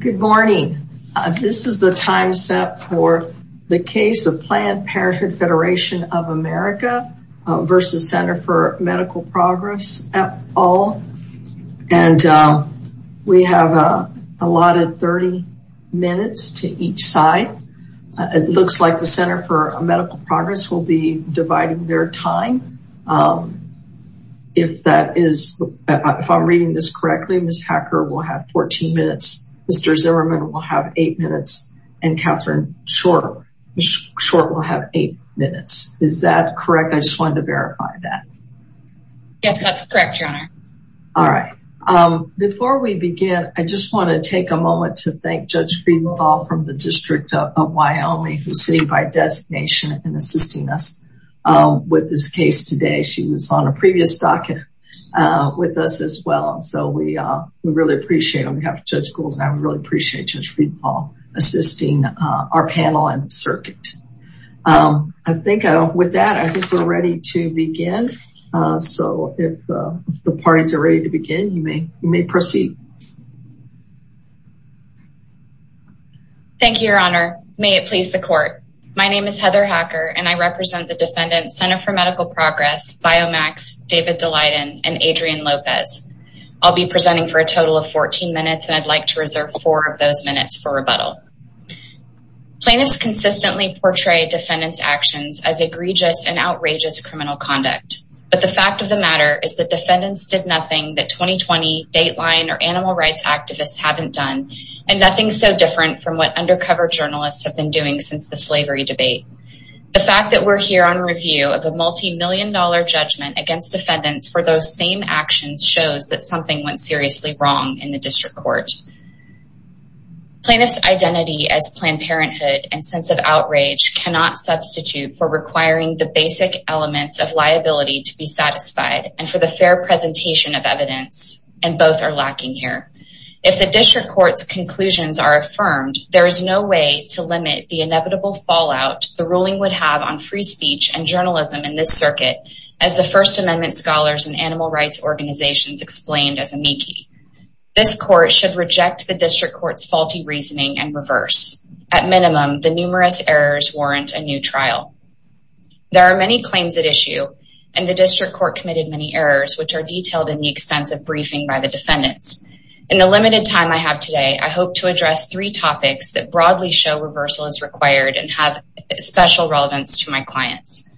Good morning. This is the time set for the case of Planned Parenthood Federation of America versus Center for Medical Progress at all. And we have a lot of 30 minutes to each side. It looks like the Center for Medical Progress will be dividing their time. If that is, if I'm reading this correctly, Ms. Hacker will have 14 minutes, Mr. Zimmerman will have eight minutes, and Catherine Short will have eight minutes. Is that correct? I just wanted to verify that. Yes, that's correct, your honor. All right. Before we begin, I just want to take a moment to thank Judge Friedenthal from the was on a previous document with us as well. So we really appreciate on behalf of Judge Gould, and I really appreciate Judge Friedenthal, assisting our panel and circuit. I think with that, I think we're ready to begin. So if the parties are ready to begin, you may you may proceed. Thank you, your honor. May it please the court. My name is Heather Hacker, and I represent the Biomax, David Daleiden, and Adrian Lopez. I'll be presenting for a total of 14 minutes, and I'd like to reserve four of those minutes for rebuttal. Plaintiffs consistently portray defendants actions as egregious and outrageous criminal conduct. But the fact of the matter is that defendants did nothing that 2020 Dateline or animal rights activists haven't done, and nothing so different from what undercover journalists have been doing since the slavery debate. The fact that we're here on review of a multi-million dollar judgment against defendants for those same actions shows that something went seriously wrong in the district court. Plaintiffs identity as Planned Parenthood and sense of outrage cannot substitute for requiring the basic elements of liability to be satisfied and for the fair presentation of evidence, and both are lacking here. If the district court's conclusions are affirmed, there is no way to limit the inevitable fallout the ruling would have on free speech and journalism in this circuit as the First Amendment scholars and animal rights organizations explained as amici. This court should reject the district court's faulty reasoning and reverse. At minimum, the numerous errors warrant a new trial. There are many claims at issue, and the district court committed many errors, which are detailed in the extensive briefing by the defendants. In the limited time I have today, I hope to address three topics that broadly show reversal is required and have special relevance to my clients.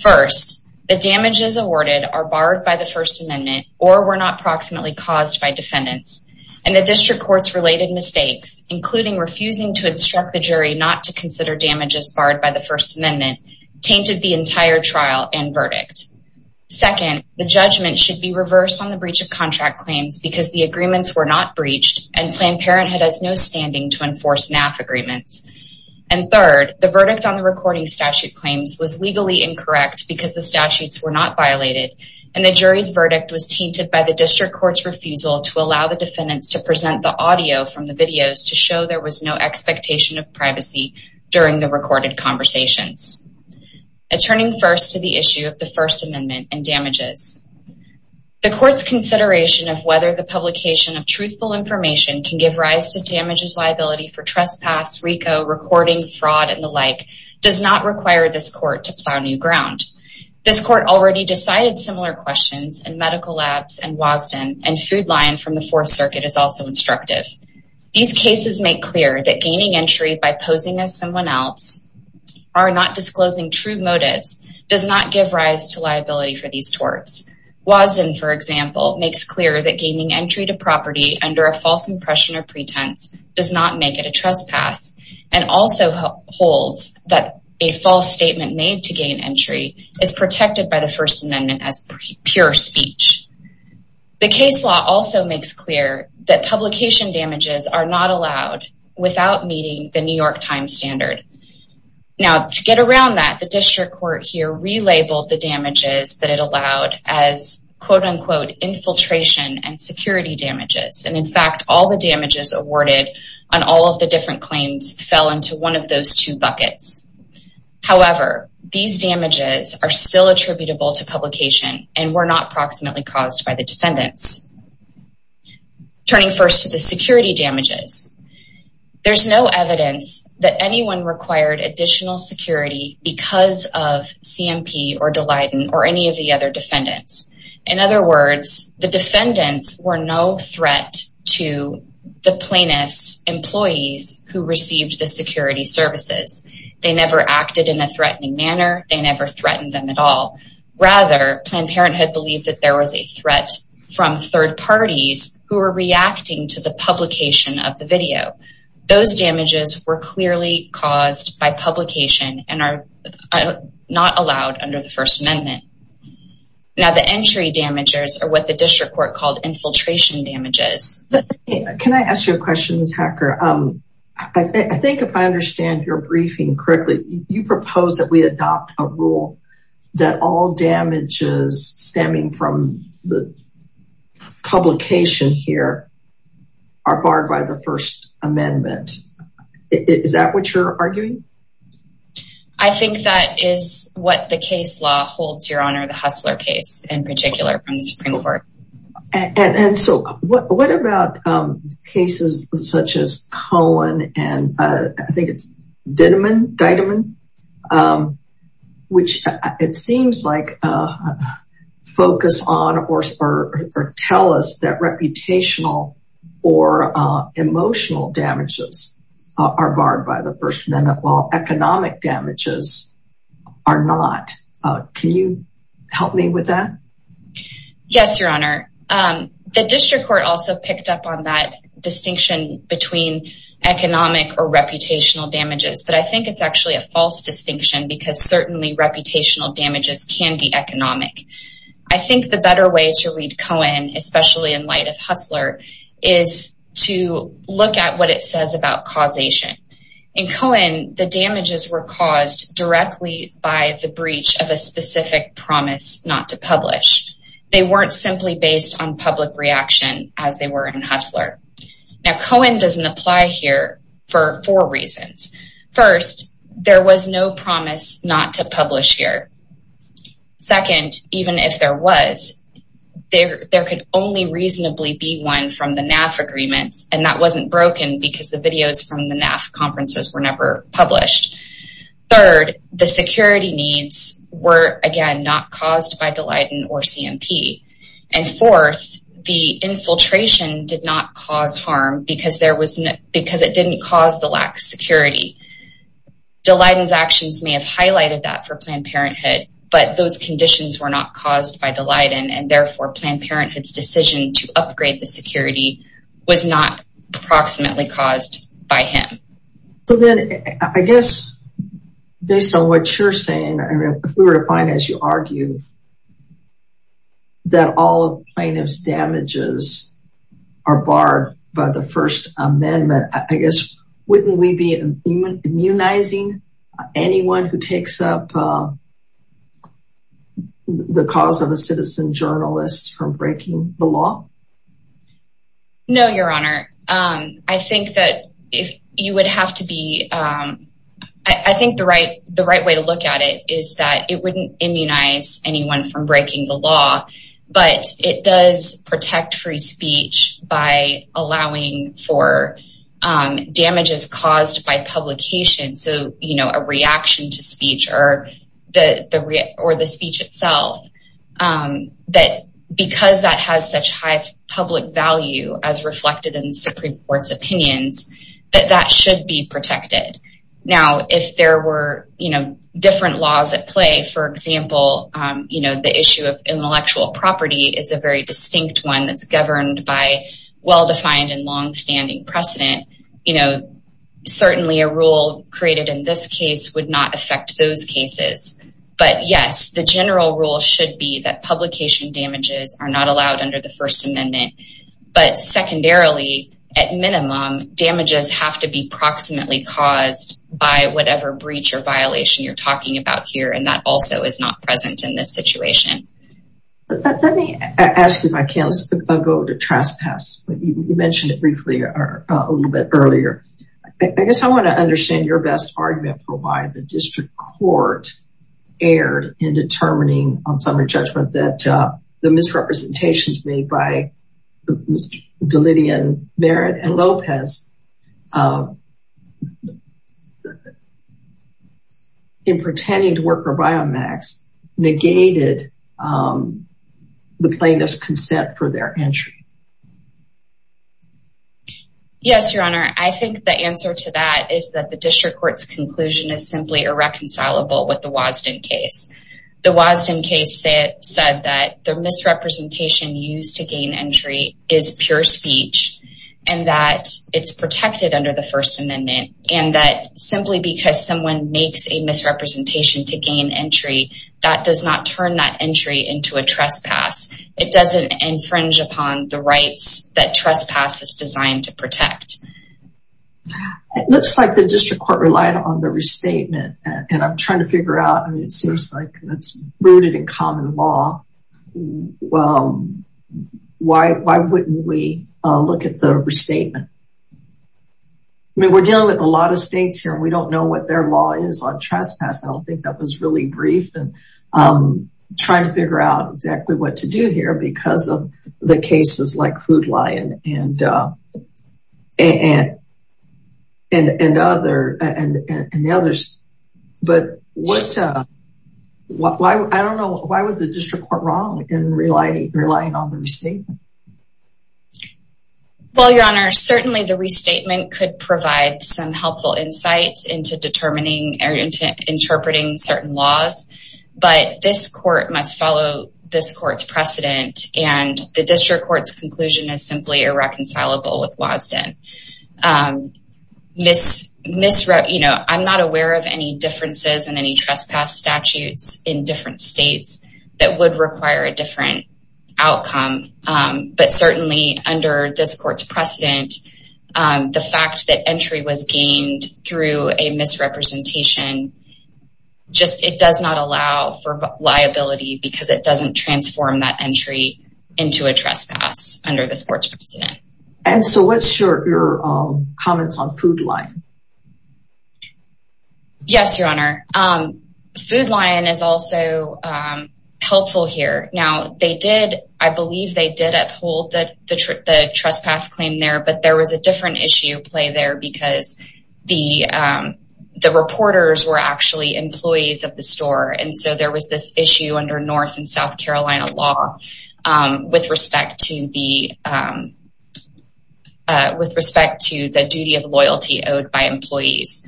First, the damages awarded are barred by the First Amendment or were not proximately caused by defendants, and the district court's related mistakes, including refusing to instruct the jury not to consider damages barred by the First Amendment, tainted the entire trial and verdict. Second, the judgment should be reversed on the breach of contract claims because the agreements were not agreements. And third, the verdict on the recording statute claims was legally incorrect because the statutes were not violated, and the jury's verdict was tainted by the district court's refusal to allow the defendants to present the audio from the videos to show there was no expectation of privacy during the recorded conversations. Turning first to the issue of the First Amendment and damages, the court's consideration of whether the publication of RICO recording fraud and the like does not require this court to plow new ground. This court already decided similar questions in medical labs and Wasden and Food Lion from the Fourth Circuit is also instructive. These cases make clear that gaining entry by posing as someone else or not disclosing true motives does not give rise to liability for these torts. Wasden, for example, makes clear that gaining entry to property under a false impression or pretense does not make it a and also holds that a false statement made to gain entry is protected by the First Amendment as pure speech. The case law also makes clear that publication damages are not allowed without meeting the New York Times standard. Now to get around that, the district court here relabeled the damages that it allowed as quote-unquote infiltration and security damages. And in fact, all the damages awarded on all of the different claims fell into one of those two buckets. However, these damages are still attributable to publication and were not proximately caused by the defendants. Turning first to the security damages, there's no evidence that anyone required additional security because of CMP or Dalyden or any of the other defendants. In other words, the defendants were no threat to the plaintiff's employees who received the security services. They never acted in a threatening manner. They never threatened them at all. Rather, Planned Parenthood believed that there was a threat from third parties who were reacting to the publication of the video. Those damages were clearly caused by publication and are not allowed under the First Amendment. Now the entry damages are what the district court called infiltration damages. Can I ask you a question Ms. Hacker? I think if I understand your briefing correctly, you propose that we adopt a rule that all damages stemming from the publication here are barred by the First Amendment. Is that what you're arguing? I think that is what the case law holds, Your Honor, the Hussler case in particular from the Supreme Court. And so what about cases such as Cohen and I think it's Didiman, which it seems like focus on or tell us that reputational or emotional damages are barred by the First Amendment while economic damages are not. Can you help me with that? Yes, Your Honor. The district court also picked up on that distinction between economic or reputational damages. But I think it's actually a false distinction because certainly reputational damages can be economic. I think the better way to read Cohen, especially in light of Hussler, is to look at what it says about causation. In Cohen, the damages were caused directly by the breach of a specific promise not to publish. They weren't simply based on public reaction as they were in Hussler. Now Cohen doesn't apply here for four reasons. First, there was no promise not to publish here. Second, even if there was, there could only reasonably be one from the NAF agreements and that wasn't broken because the videos from the NAF conferences were never published. Third, the security needs were again not caused by Dilliden or CMP. And fourth, the infiltration did not cause harm because it didn't cause the lack of security. Dilliden's actions may have highlighted that for Planned Parenthood, but those conditions were not caused by Dilliden and therefore Planned Parenthood's decision to upgrade the security was not approximately caused by him. So then I guess based on what you're saying, if we were to find as you argue that all of plaintiff's damages are barred by the First Amendment, I guess, wouldn't we be immunizing anyone who takes up the cause of a citizen journalist from breaking the law? No, Your Honor. I think that if you would have to be, I think the right way to look at it is that wouldn't immunize anyone from breaking the law, but it does protect free speech by allowing for damages caused by publication. So a reaction to speech or the speech itself, that because that has such high public value as reflected in Supreme Court's opinions, that that should be protected. Now, if there were different laws at play, for example, the issue of intellectual property is a very distinct one that's governed by well-defined and longstanding precedent. Certainly a rule created in this case would not affect those cases. But yes, the general rule should be that publication damages are not allowed under the be approximately caused by whatever breach or violation you're talking about here. And that also is not present in this situation. Let me ask you if I can, this is a go to trespass, but you mentioned it briefly a little bit earlier. I guess I want to understand your best argument for why the district court erred in determining on summary judgment that the in pretending to work for Biomax negated the plaintiff's consent for their entry. Yes, Your Honor, I think the answer to that is that the district court's conclusion is simply irreconcilable with the Wasden case. The Wasden case said that the misrepresentation used to First Amendment and that simply because someone makes a misrepresentation to gain entry, that does not turn that entry into a trespass. It doesn't infringe upon the rights that trespass is designed to protect. It looks like the district court relied on the restatement. And I'm trying to figure out, I mean, it seems like that's rooted in common law. Well, why wouldn't we look at the restatement? I mean, we're dealing with a lot of states here, and we don't know what their law is on trespass. I don't think that was really briefed and trying to figure out exactly what to do here because of the cases like Hoodlion and and others. But I don't know, why was the district court wrong in relying on the restatement? Well, Your Honor, certainly the restatement could provide some helpful insight into determining or interpreting certain laws. But this court must follow this court's precedent and the district court's conclusion is simply irreconcilable with misrep, you know, I'm not aware of any differences in any trespass statutes in different states that would require a different outcome. But certainly under this court's precedent, the fact that entry was gained through a misrepresentation, just it does not allow for liability because it doesn't transform that entry into a trespass under this court's precedent. And so what's your comments on Food Lion? Yes, Your Honor. Food Lion is also helpful here. Now, they did, I believe they did uphold that the trip, the trespass claim there, but there was a different issue play there because the reporters were actually employees of the store. And so there was this issue under North and South Carolina law with respect to the duty of loyalty owed by employees.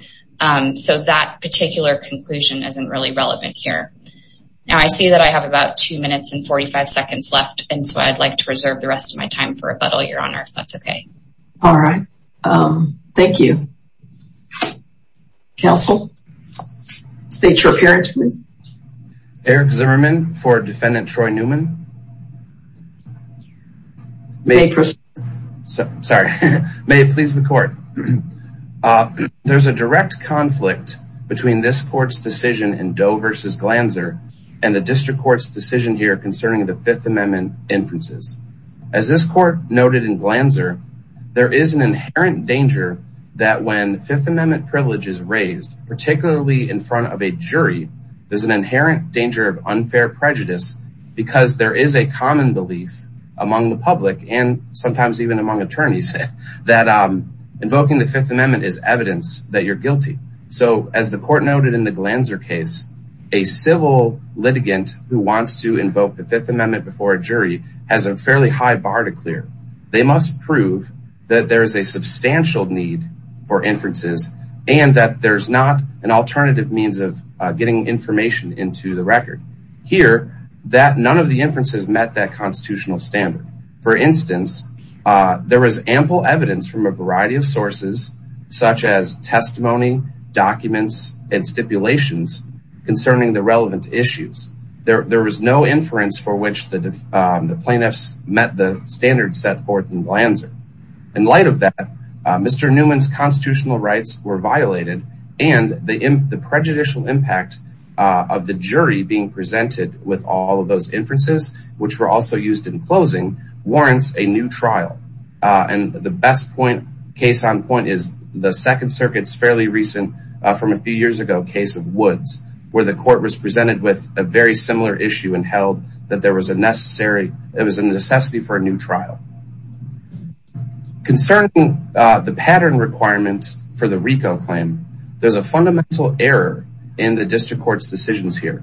So that particular conclusion isn't really relevant here. Now, I see that I have about two minutes and 45 seconds left. And so I'd like to reserve the rest of my time for rebuttal, Your Honor, if that's okay. All right. Thank you. Counsel? State your appearance, please. Eric Zimmerman for Defendant Troy Newman. Sorry. May it please the court. There's a direct conflict between this court's decision in Doe versus Glanzer and the district court's decision here concerning the Fifth Amendment inferences. As this court noted in Glanzer, there is an inherent danger that when Fifth Amendment privilege is raised, particularly in front of a jury, there's an inherent danger of unfair prejudice because there is a common belief among the public and sometimes even among attorneys that invoking the Fifth Amendment is evidence that you're guilty. So as the court noted in the Glanzer case, a civil litigant who wants to invoke the Fifth Amendment before a jury has a fairly high bar to clear. They must prove that there is a substantial need for inferences and that there's not an alternative means of getting information into the record. Here, none of the inferences met that constitutional standard. For instance, there was ample evidence from a variety of sources such as testimony, documents, and stipulations concerning the relevant issues. There was no inference for which the plaintiffs met the rights. The prejudicial impact of the jury being presented with all of those inferences, which were also used in closing, warrants a new trial. And the best case on point is the Second Circuit's fairly recent, from a few years ago, case of Woods, where the court was presented with a very similar issue and held that there was a necessity for a new trial. Concerning the pattern requirements for the RICO claim, there's a fundamental error in the district court's decisions here.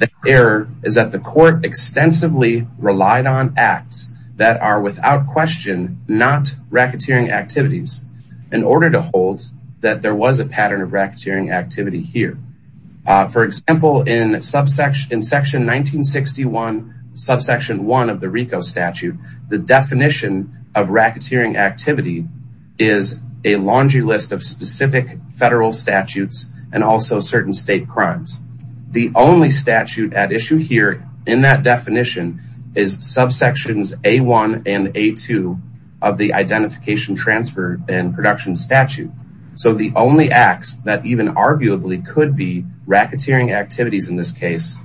The error is that the court extensively relied on acts that are without question not racketeering activities in order to hold that there was a pattern of racketeering activity here. For example, in section 1961, subsection 1 of the RICO statute, the definition of racketeering activity is a laundry list of specific federal statutes and also certain state crimes. The only statute at issue here in that definition is subsections A1 and A2 of the identification transfer and production statute. So the only acts that even arguably could be racketeering activities in this case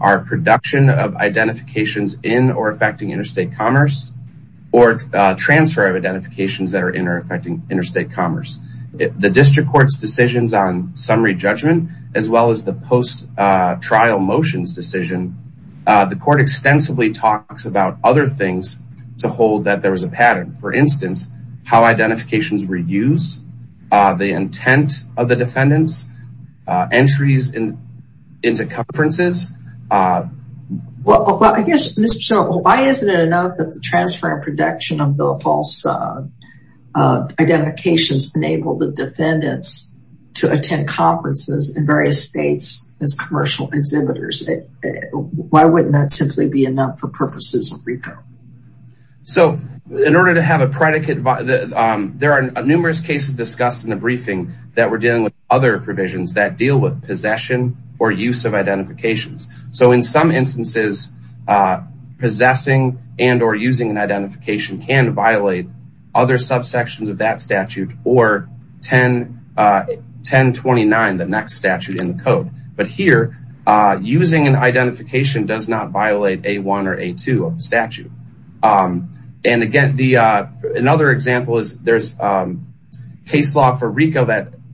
are production of identifications in or affecting interstate commerce or transfer of identifications that are in or affecting interstate commerce. The district court's decisions on summary judgment, as well as the post trial motions decision, the court extensively talks about other things to hold that there was a pattern. For instance, how identifications were used, the intent of the defendants, entries into conferences. Well, I guess, Mr. Shultz, why isn't it enough that the transfer and production of the false identifications enabled the defendants to attend conferences in various states as commercial exhibitors? Why wouldn't that simply be enough for purposes of RICO? So in order to have a predicate, there are numerous cases discussed in the briefing that were dealing with other provisions that deal with possession or use of identifications. So in some instances, possessing and or using an identification can violate other subsections of that statute or 1029, the next statute in the code. But here, using an identification does not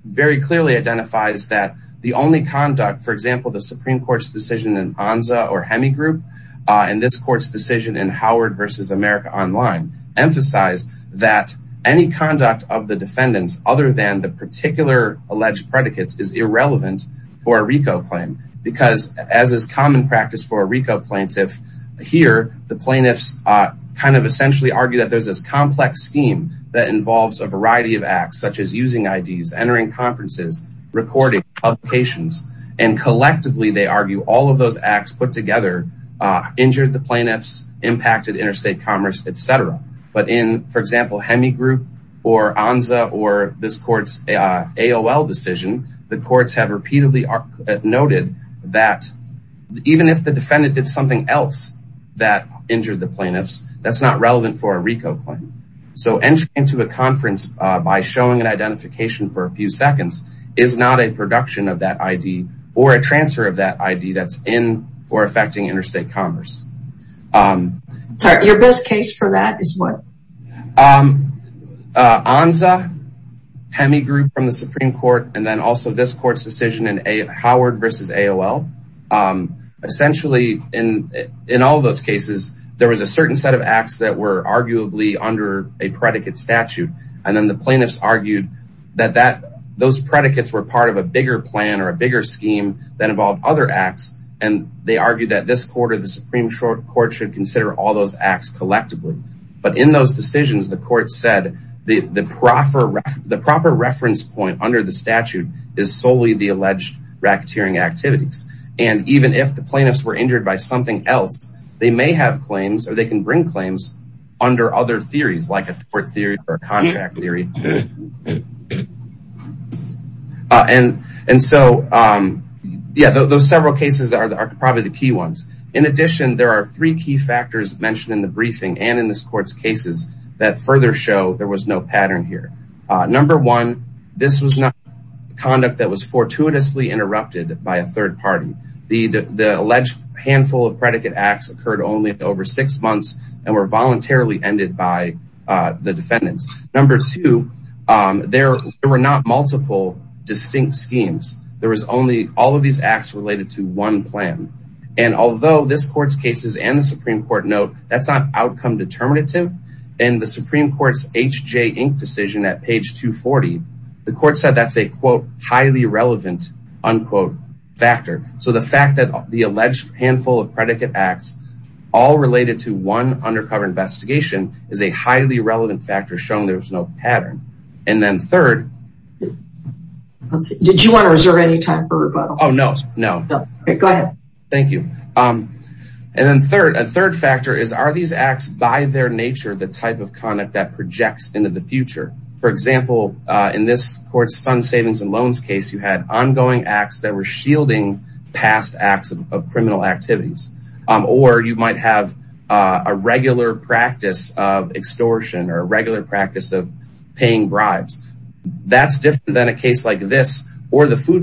very clearly identifies that the only conduct, for example, the Supreme Court's decision in Anza or Hemi group and this court's decision in Howard versus America online emphasize that any conduct of the defendants other than the particular alleged predicates is irrelevant for a RICO claim because as is common practice for a RICO plaintiff here, the plaintiffs kind of essentially argue that there's this complex scheme that involves a variety of acts such as using IDs, entering conferences, recording publications, and collectively, they argue all of those acts put together injured the plaintiffs, impacted interstate commerce, et cetera. But in, for example, Hemi group or Anza or this court's AOL decision, the courts have repeatedly noted that even if the So entering into a conference by showing an identification for a few seconds is not a production of that ID or a transfer of that ID that's in or affecting interstate commerce. Sorry, your best case for that is what? Anza, Hemi group from the Supreme Court, and then also this court's decision in Howard versus AOL. Essentially, in all those cases, there was a certain set of acts that were arguably under a predicate statute. And then the plaintiffs argued that those predicates were part of a bigger plan or a bigger scheme that involved other acts. And they argued that this quarter, the Supreme Court should consider all those acts collectively. But in those decisions, the court said the proper reference point under the statute is solely the alleged racketeering activities. And even if the plaintiffs were injured by something else, they may have claims or they can bring claims under other theories like a tort theory or a contract theory. And so, yeah, those several cases are probably the key ones. In addition, there are three key factors mentioned in the briefing and in this court's cases that further show there was no pattern here. Number one, this was not conduct that was fortuitously interrupted by a third party. The alleged handful of predicate acts occurred only over six months and were voluntarily ended by the defendants. Number two, there were not multiple distinct schemes. There was only all of these acts related to one plan. And although this court's cases and the Supreme Court note, that's not outcome determinative. And the Supreme Court's decision at page 240, the court said that's a quote, highly relevant unquote factor. So the fact that the alleged handful of predicate acts all related to one undercover investigation is a highly relevant factor showing there was no pattern. And then third. Did you want to reserve any time for rebuttal? Oh, no, no. Go ahead. Thank you. And then third, a third factor is, are these acts by their nature the type of conduct that projects into the future? For example, in this court's funds, savings and loans case, you had ongoing acts that were shielding past acts of criminal activities. Or you might have a regular practice of extortion or a regular practice of paying bribes. That's different than a case like this or the Food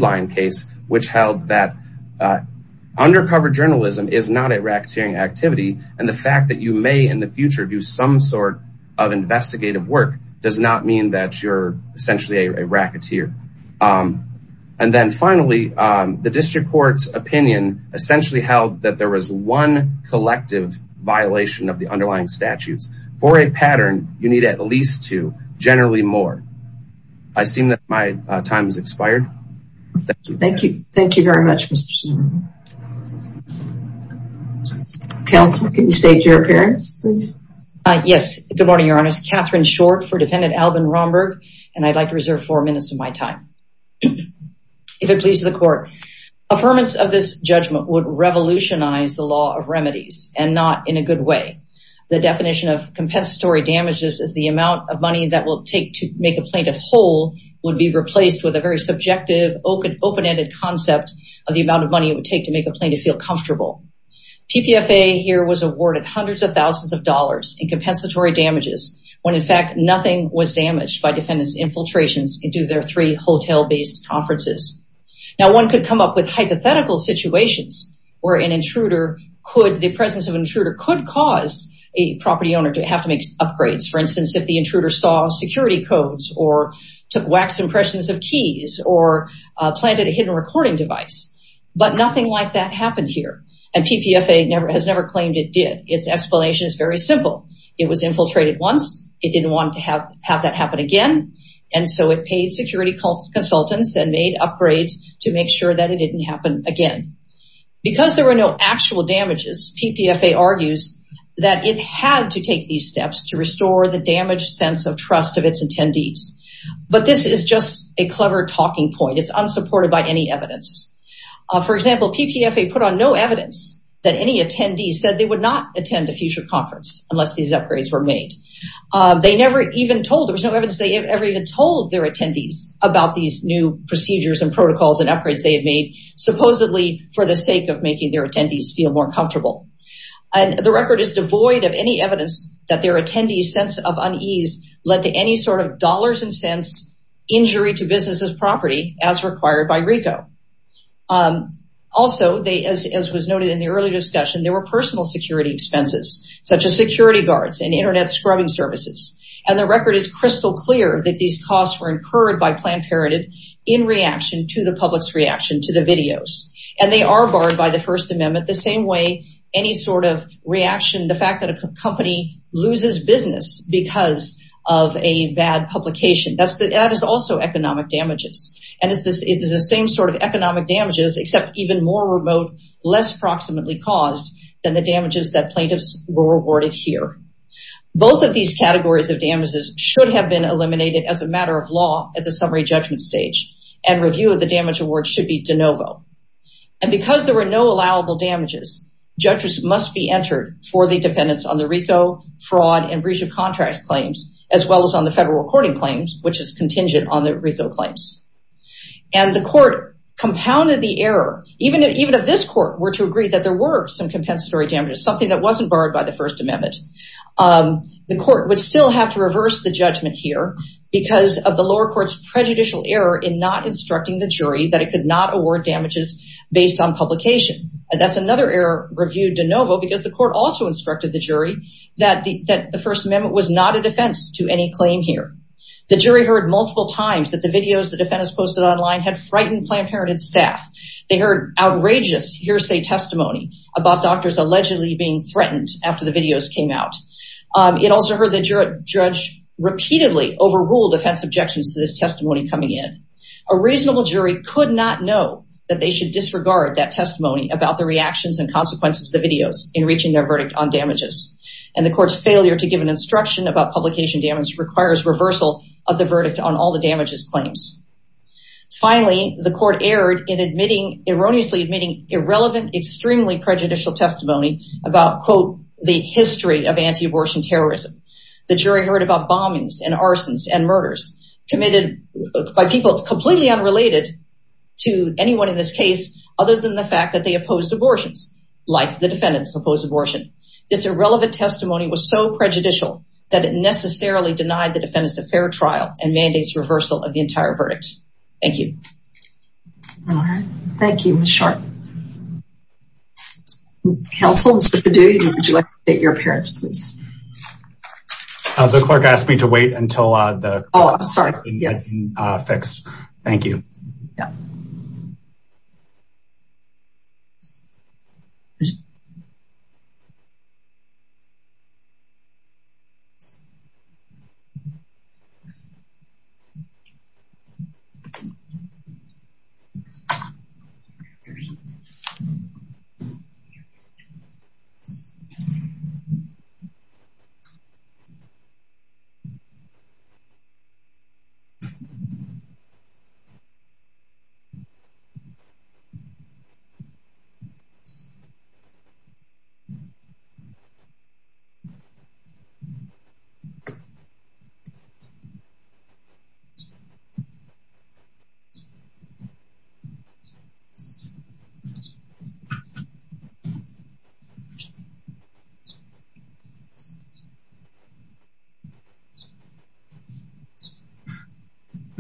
Covered Journalism is not a racketeering activity. And the fact that you may in the future do some sort of investigative work does not mean that you're essentially a racketeer. And then finally, the district court's opinion essentially held that there was one collective violation of the underlying statutes. For a pattern, you need at least two, generally more. I see that my time has expired. Thank you. Thank you. Thank you very much. Counsel, can you state your appearance, please? Yes. Good morning, Your Honor. Catherine Short for Defendant Alvin Romberg. And I'd like to reserve four minutes of my time. If it pleases the court, affirmance of this judgment would revolutionize the law of remedies and not in a good way. The definition of compensatory damages is the amount of money that will take to make a very subjective, open-ended concept of the amount of money it would take to make a plaintiff feel comfortable. PPFA here was awarded hundreds of thousands of dollars in compensatory damages when in fact nothing was damaged by defendant's infiltrations into their three hotel-based conferences. Now, one could come up with hypothetical situations where the presence of an intruder could cause a property owner to have to make upgrades. For instance, if the or planted a hidden recording device. But nothing like that happened here. And PPFA has never claimed it did. Its explanation is very simple. It was infiltrated once. It didn't want to have that happen again. And so it paid security consultants and made upgrades to make sure that it didn't happen again. Because there were no actual damages, PPFA argues that it had to take these steps to it's unsupported by any evidence. For example, PPFA put on no evidence that any attendees said they would not attend a future conference unless these upgrades were made. They never even told there was no evidence they ever even told their attendees about these new procedures and protocols and upgrades they had made supposedly for the sake of making their attendees feel more comfortable. And the record is devoid of any evidence that their attendees' sense of unease led to any sort of dollars and cents injury to businesses property as required by RICO. Also, as was noted in the earlier discussion, there were personal security expenses such as security guards and internet scrubbing services. And the record is crystal clear that these costs were incurred by Planned Parenthood in reaction to the public's reaction to the videos. And they are barred by the First Amendment the same way any sort of reaction, the fact that a company loses business because of a bad publication. That is also economic damages. And it's the same sort of economic damages except even more remote, less proximately caused than the damages that plaintiffs were rewarded here. Both of these categories of damages should have been eliminated as a matter of law at the summary judgment stage and review of the damage award should be de novo. And because there were no allowable damages, judges must be entered for the dependence on the contract claims as well as on the federal recording claims, which is contingent on the RICO claims. And the court compounded the error, even if this court were to agree that there were some compensatory damages, something that wasn't barred by the First Amendment, the court would still have to reverse the judgment here because of the lower court's prejudicial error in not instructing the jury that it could not award damages based on publication. And that's another review de novo because the court also instructed the jury that the First Amendment was not a defense to any claim here. The jury heard multiple times that the videos the defendants posted online had frightened Planned Parenthood staff. They heard outrageous hearsay testimony about doctors allegedly being threatened after the videos came out. It also heard the judge repeatedly overrule defense objections to this testimony coming in. A reasonable jury could not know that they should And the court's failure to give an instruction about publication damage requires reversal of the verdict on all the damages claims. Finally, the court erred in erroneously admitting irrelevant, extremely prejudicial testimony about, quote, the history of anti-abortion terrorism. The jury heard about bombings and arsons and murders committed by people completely unrelated to anyone in this case, other than the fact that they opposed abortions, like the defendants opposed abortion. This irrelevant testimony was so prejudicial that it necessarily denied the defendants a fair trial and mandates reversal of the entire verdict. Thank you. Thank you, Ms. Sharpe. Counsel, Mr. Padilla, would you like to state your appearance, please? The clerk asked me to wait until the- Oh, I'm sorry. Yes, uh, fixed. Thank you.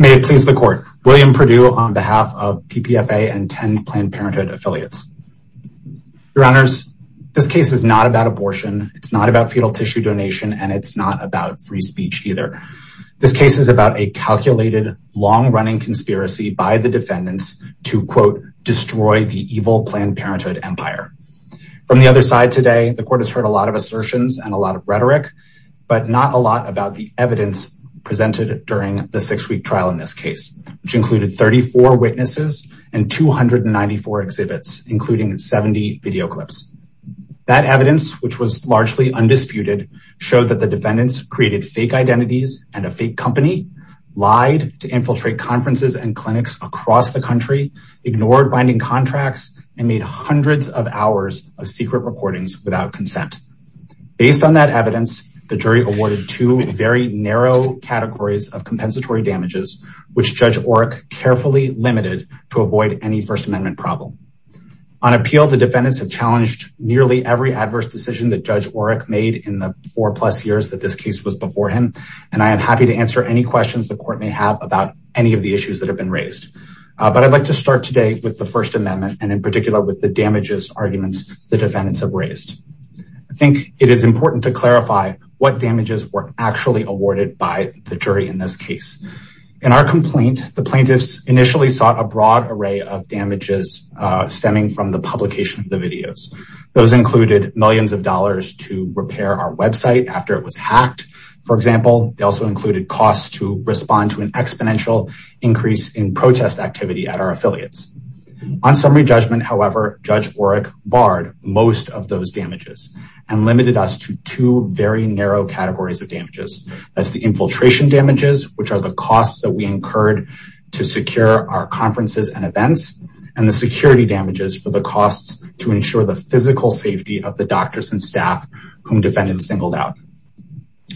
May it please the court. William Perdue on behalf of PPFA and 10 Planned Parenthood affiliates. Your honors, this case is not about abortion, it's not about fetal tissue donation, and it's not about free speech either. This case is about a calculated, long-running conspiracy by the defendants to, quote, destroy the evil Planned Parenthood empire. From the other side today, the court has heard a lot of assertions and a lot of rhetoric, but not a lot about the evidence presented during the six-week trial in this case, which included 34 witnesses and 294 exhibits, including 70 video clips. That evidence, which was largely undisputed, showed that the defendants created fake identities and a fake company, lied to infiltrate conferences and clinics across the country, ignored binding contracts, and made hundreds of hours of secret recordings without consent. Based on that evidence, the jury awarded two very narrow categories of compensatory damages, which Judge Oreck carefully limited to avoid any First Amendment problem. On appeal, the defendants have challenged nearly every adverse decision that Judge Oreck made in the four-plus years that this case was before him, and I am happy to answer any questions the court may have about any of the issues that have been raised. But I'd like to start today with the First Amendment, and in particular with the damages arguments the defendants have raised. I think it is important to clarify what damages were actually awarded by the jury in this case. In our complaint, the plaintiffs initially sought a broad array of damages stemming from the publication of the videos. Those included millions of dollars to repair our website after it was hacked, for example. They also included costs to respond to an exponential increase in protest activity at our affiliates. On summary judgment, however, Judge Oreck barred most of those damages and limited us to two very narrow categories of damages. That's the infiltration damages, which are the costs that we incurred to secure our conferences and events, and the security damages for the costs to ensure the physical safety of the doctors and staff whom the defendants singled out.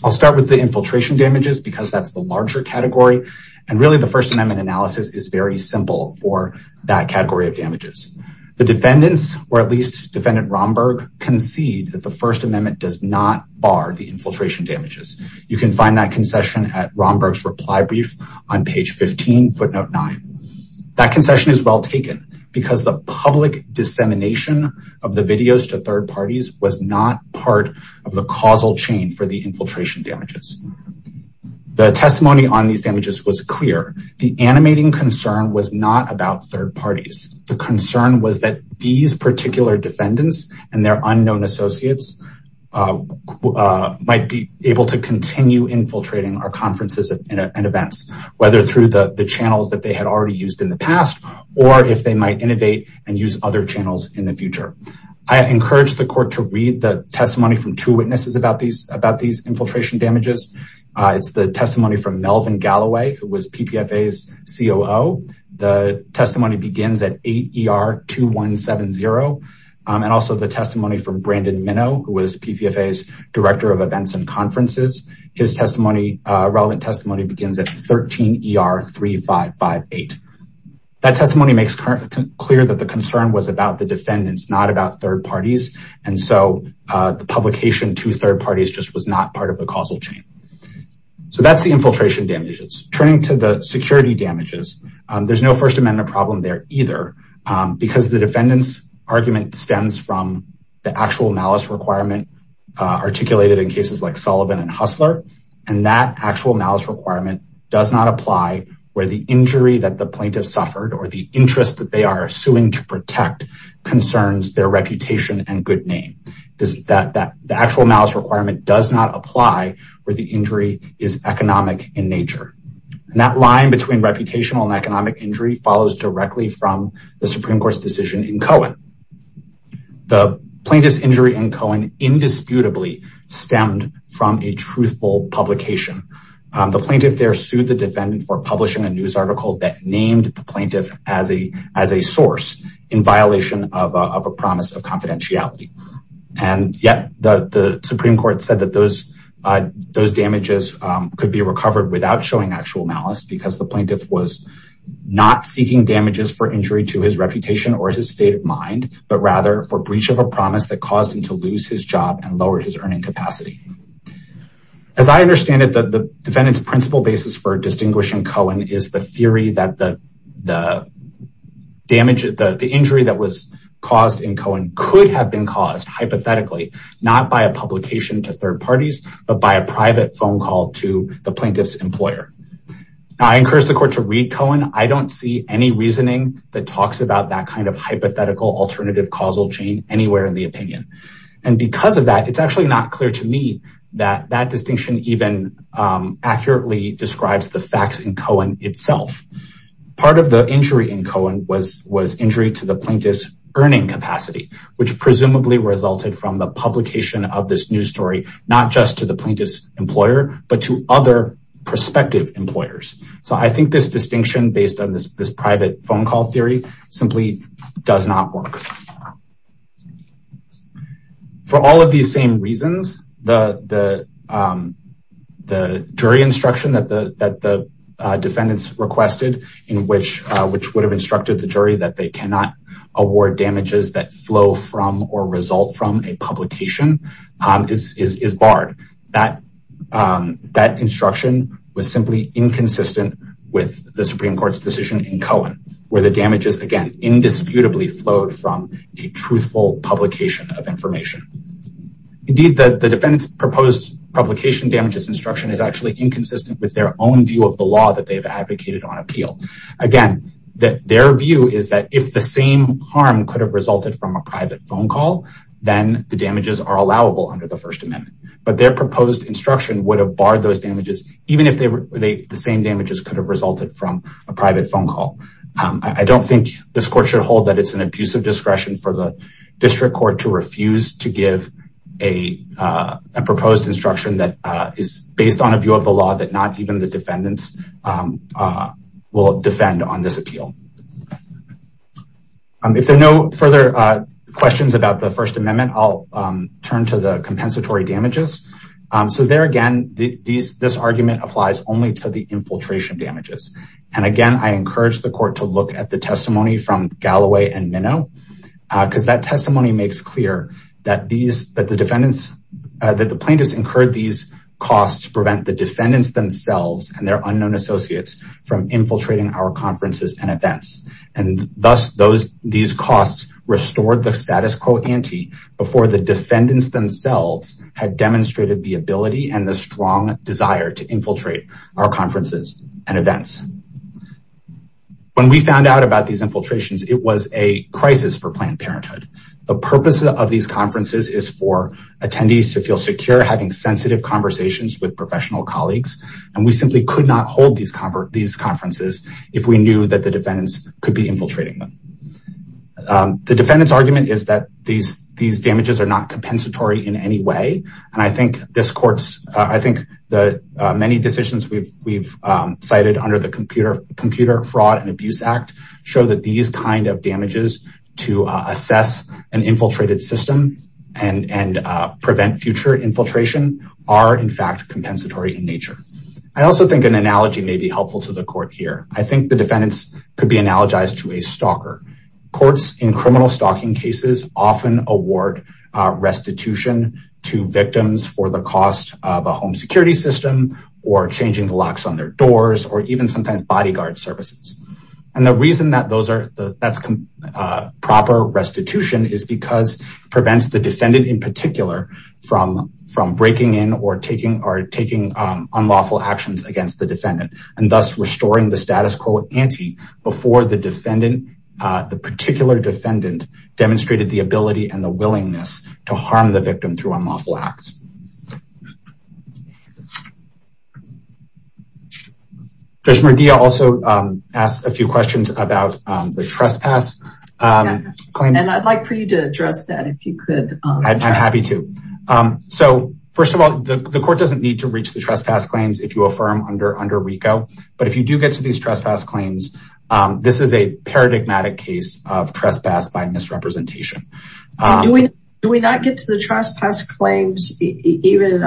I'll start with the infiltration damages because that's the larger category, and really the First Amendment analysis is very simple for that category of damages. The defendants, or at least Defendant Romberg, concede that the First Amendment does not bar the infiltration damages. You can find that concession at Romberg's reply brief on page 15, footnote 9. That concession is well taken because the public dissemination of the videos to third parties was not part of the causal chain for the infiltration damages. The testimony on these damages was clear. The animating concern was not about third parties. The concern was that these particular defendants and their unknown associates might be able to continue infiltrating our conferences and events, whether through the channels that they had already used in the past or if they might innovate and use other channels in the future. I encourage the court to read the testimony from two witnesses about these infiltration damages. It's the testimony from Melvin Galloway, who was PPFA's COO. The testimony begins at 8 ER 2170, and also the testimony from Brandon Minow, who was PPFA's Director of Events and Conferences. His relevant testimony begins at 13 ER 3558. That testimony makes current clear that the concern was about the defendants, not about third parties, and so the publication to third parties just was not part of the causal chain. So that's the infiltration damages. Turning to the security damages, there's no First Amendment problem there either because the defendant's argument stems from the actual malice requirement articulated in cases like Sullivan and Hustler, and that actual malice requirement does not apply where the injury that the plaintiff suffered or the interest that they are suing to protect concerns their reputation and good name. The actual malice requirement does not apply where the injury is economic in nature, and that line between reputational and economic injury follows directly from the Supreme Court's decision in Cohen. The plaintiff's injury in Cohen indisputably stemmed from a truthful publication. The plaintiff there sued the defendant for publishing a news article that named the plaintiff as a source in violation of a promise of confidentiality, and yet the Supreme Court said that those damages could be recovered without showing actual malice because the plaintiff was not seeking damages for injury to his reputation or his state of mind, but rather for breach of a promise that caused him to lose his job and lower his earning capacity. As I understand it, the defendant's principal basis for distinguishing Cohen is the theory that the injury that was caused in Cohen could have been caused hypothetically, not by a publication to third parties, but by a private phone call to the plaintiff's employer. I encourage the court to read Cohen. I don't see any reasoning that talks about that kind of hypothetical alternative causal chain anywhere in the opinion, and because of that it's actually not clear to me that that distinction even accurately describes the facts in Cohen itself. Part of the injury in Cohen was injury to the plaintiff's earning capacity, which presumably resulted from the publication of this news story, not just to the plaintiff's employer, but to other prospective employers. So I think this distinction based on this phone call theory simply does not work. For all of these same reasons, the jury instruction that the defendants requested, which would have instructed the jury that they cannot award damages that flow from or result from a publication, is barred. That instruction was simply inconsistent with the Supreme Court's decision in Cohen, where the damages, again, indisputably flowed from a truthful publication of information. Indeed, the defendant's proposed publication damages instruction is actually inconsistent with their own view of the law that they've advocated on appeal. Again, their view is that if the same harm could have resulted from a private phone call, then the damages are allowable under the First Amendment, but their same damages could have resulted from a private phone call. I don't think this court should hold that it's an abuse of discretion for the district court to refuse to give a proposed instruction that is based on a view of the law that not even the defendants will defend on this appeal. If there are no further questions about the First Amendment, I'll turn to the compensatory damages. There again, this argument applies only to the infiltration damages. Again, I encourage the court to look at the testimony from Galloway and Minow, because that testimony makes clear that the plaintiffs incurred these costs to prevent the defendants themselves and their unknown associates from infiltrating our conferences and events. Thus, these costs restored the status quo ante before the defendants themselves had demonstrated the ability and the strong desire to infiltrate our conferences and events. When we found out about these infiltrations, it was a crisis for Planned Parenthood. The purpose of these conferences is for attendees to feel secure having sensitive conversations with professional colleagues, and we simply could not hold these conferences if we knew that the defendants could be infiltrating them. The defendant's argument is that these damages are not compensatory in any way, and I think the many decisions we've cited under the Computer Fraud and Abuse Act show that these kind of damages to assess an infiltrated system and prevent future infiltration are in fact compensatory in nature. I also think an analogy may be helpful to the court here. I think the courts in criminal stalking cases often award restitution to victims for the cost of a home security system, or changing the locks on their doors, or even sometimes bodyguard services. The reason that that's proper restitution is because it prevents the defendant in particular from breaking in or taking unlawful actions against the defendant, and thus restoring the anti-status quo before the particular defendant demonstrated the ability and the willingness to harm the victim through unlawful acts. Judge Murguia also asked a few questions about the trespass claims. I'd like for you to address that if you could. I'm happy to. First of all, the court doesn't need to reach the trespass claims if you affirm under RICO, but if you do get to these trespass claims, this is a paradigmatic case of trespass by misrepresentation. Do we not get to the trespass claims even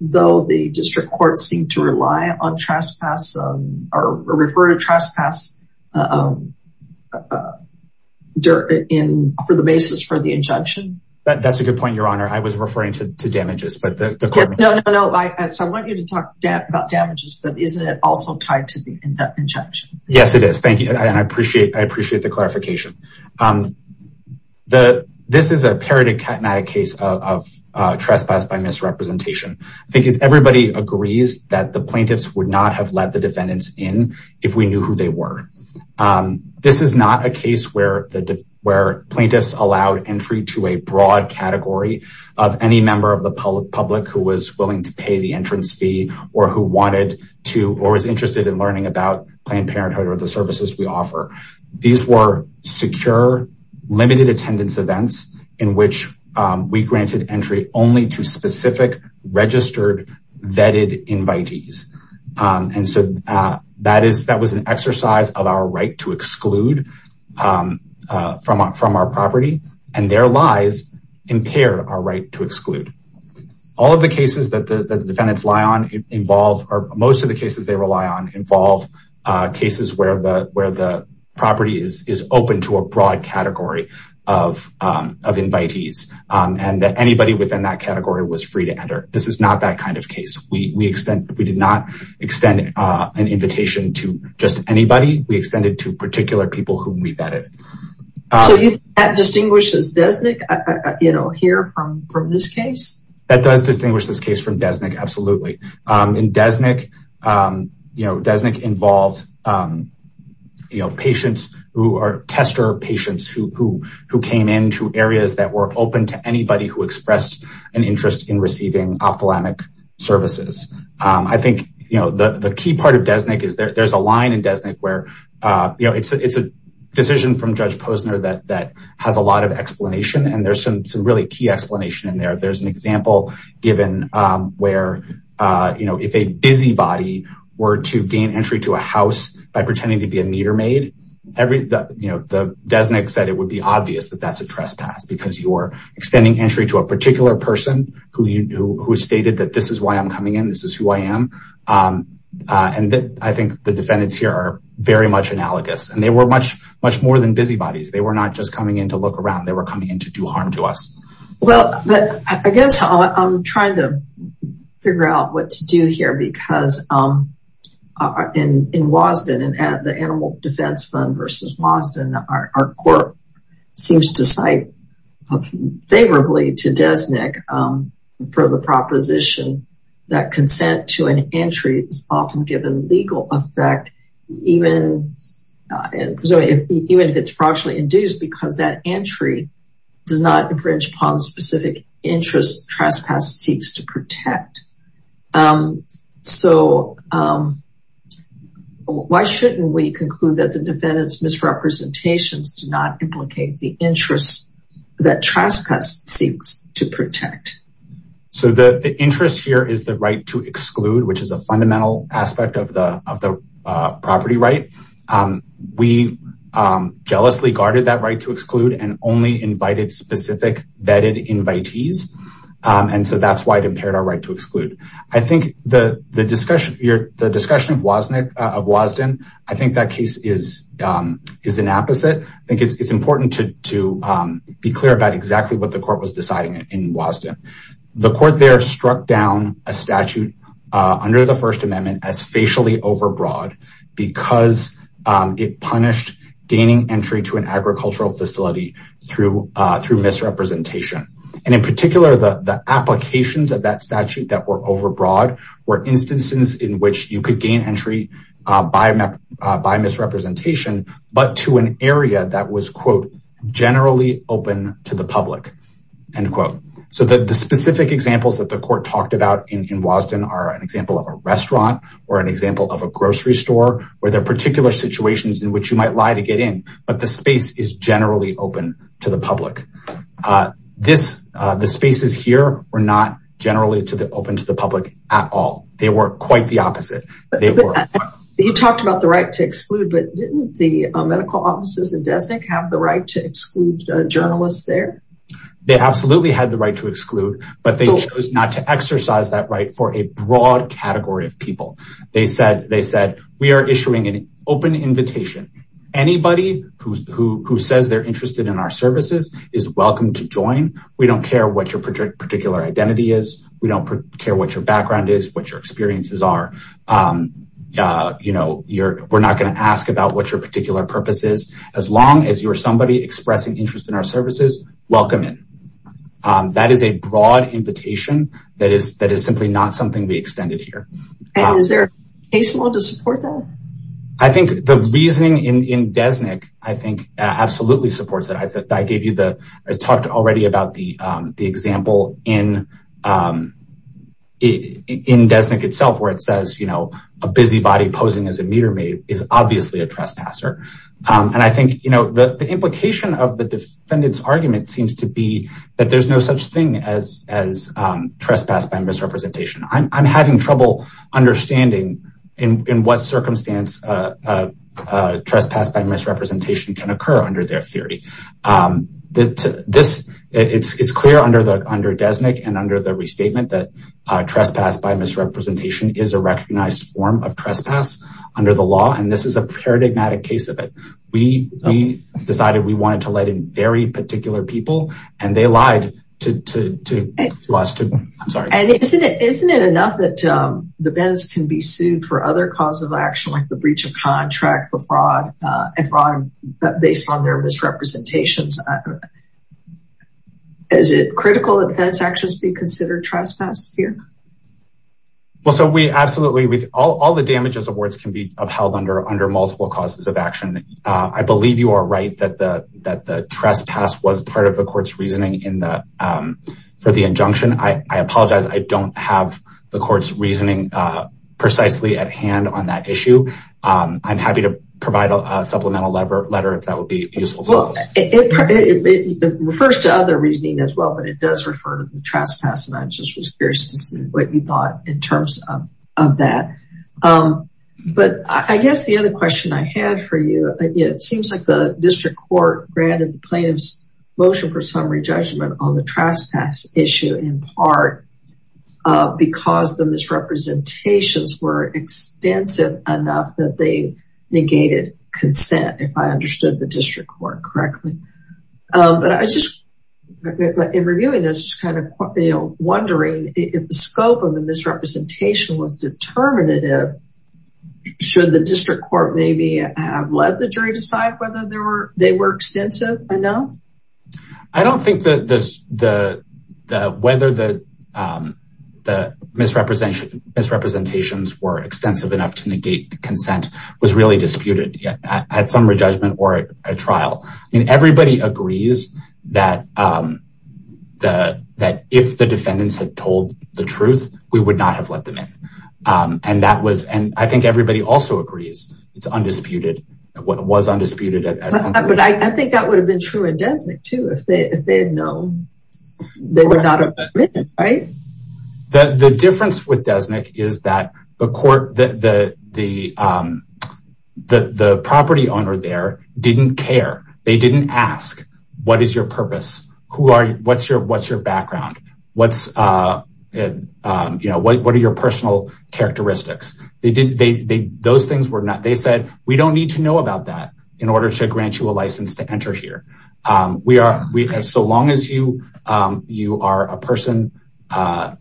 though the district courts seem to rely on trespass or refer to trespass for the basis for the injunction? That's a good point, but isn't it also tied to the injunction? Yes, it is. Thank you, and I appreciate the clarification. This is a paradigmatic case of trespass by misrepresentation. I think everybody agrees that the plaintiffs would not have let the defendants in if we knew who they were. This is not a case where plaintiffs allowed entry to a broad category of any member of the public who was willing to pay the entrance fee or was interested in learning about Planned Parenthood or the services we offer. These were secure limited attendance events in which we granted entry only to specific registered vetted invitees. That was an exercise of our right to all of the cases that the defendants rely on. Most of the cases they rely on involve cases where the property is open to a broad category of invitees and that anybody within that category was free to enter. This is not that kind of case. We did not extend an invitation to just anybody. We extended it to particular people whom we vetted. So you think that does distinguish this case from Desnick? Absolutely. In Desnick, Desnick involved patients who are tester patients who came into areas that were open to anybody who expressed an interest in receiving ophthalmic services. I think the key part of Desnick is there's a line in Desnick where it's a decision from Judge Posner that has a lot of explanation and there's some key explanation in there. There's an example given where if a busybody were to gain entry to a house by pretending to be a meter maid, Desnick said it would be obvious that that's a trespass because you're extending entry to a particular person who stated that this is why I'm coming in, this is who I am. I think the defendants here are very much analogous and they were much more than busybodies. They were not just coming in to look around, they were coming in to do harm to us. Well, I guess I'm trying to figure out what to do here because in Wasden and at the Animal Defense Fund versus Wasden, our court seems to cite favorably to Desnick for the proposition that consent to an entry is often given legal effect even if it's fraudulently induced because that entry does not infringe upon specific interests trespass seeks to protect. So why shouldn't we conclude that the defendant's misrepresentations do not implicate the interests that trespass seeks to protect? So the interest here is the right to exclude which is a fundamental aspect of the property right. We jealously guarded that right to exclude and only invited specific vetted invitees and so that's why it impaired our right to exclude. I think the discussion here, is an opposite. I think it's important to be clear about exactly what the court was deciding in Wasden. The court there struck down a statute under the First Amendment as facially overbroad because it punished gaining entry to an agricultural facility through misrepresentation and in particular the applications of that statute that were overbroad were instances in which you but to an area that was quote generally open to the public end quote. So the specific examples that the court talked about in Wasden are an example of a restaurant or an example of a grocery store where there are particular situations in which you might lie to get in but the space is generally open to the public. The spaces here were not generally open to the public at all. They were quite the opposite. You talked about the right to exclude but didn't the medical offices in Desnick have the right to exclude journalists there? They absolutely had the right to exclude but they chose not to exercise that right for a broad category of people. They said we are issuing an open invitation. Anybody who says they're interested in our services is welcome to join. We don't care what your particular identity is. We don't care what your background is, what your experiences are. We're not going to ask about what your particular purpose is. As long as you're somebody expressing interest in our services, welcome in. That is a broad invitation that is simply not something we extended here. Is there a case law to support that? I think the reasoning in Desnick absolutely supports that. I talked already about the example in Desnick itself where it says a busy body posing as a meter maid is obviously a trespasser. The implication of the defendant's argument seems to be that there's no such thing as trespass by misrepresentation. I'm having occur under their theory. It's clear under Desnick and under the restatement that trespass by misrepresentation is a recognized form of trespass under the law and this is a paradigmatic case of it. We decided we wanted to let in very particular people and they lied to us. Isn't it enough that the bends can be sued for other causes of action like the breach of contract for fraud and fraud based on their misrepresentations? Is it critical that those actions be considered trespass here? All the damages awards can be upheld under multiple causes of action. I believe you are right that the trespass was part of the court's reasoning for the injunction. I apologize, I don't have the court's reasoning precisely at hand on that issue. I'm happy to provide a supplemental letter if that would be useful. It refers to other reasoning as well but it does refer to the trespass and I'm just curious to see what you thought in terms of that. I guess the other question I had for you, it seems like the district court granted the plaintiff's motion for summary issue in part because the misrepresentations were extensive enough that they negated consent, if I understood the district court correctly. I was just wondering if the scope of the misrepresentation was determinative, should the district court maybe have let the jury decide whether they were extensive enough? I don't think that the misrepresentations were extensive enough to negate consent was really disputed at summary judgment or a trial. I mean everybody agrees that if the defendants had told the truth we would not have let them in and that was and I think everybody also agrees it's undisputed what was undisputed but I think that would have been true in Desnick too if they if they had known they would not have written. The difference with Desnick is that the court, the property owner there didn't care, they didn't ask what is your purpose, what's your background, what are your personal characteristics, they said we don't need to know about that in order to grant you a license to enter here. So long as you are a person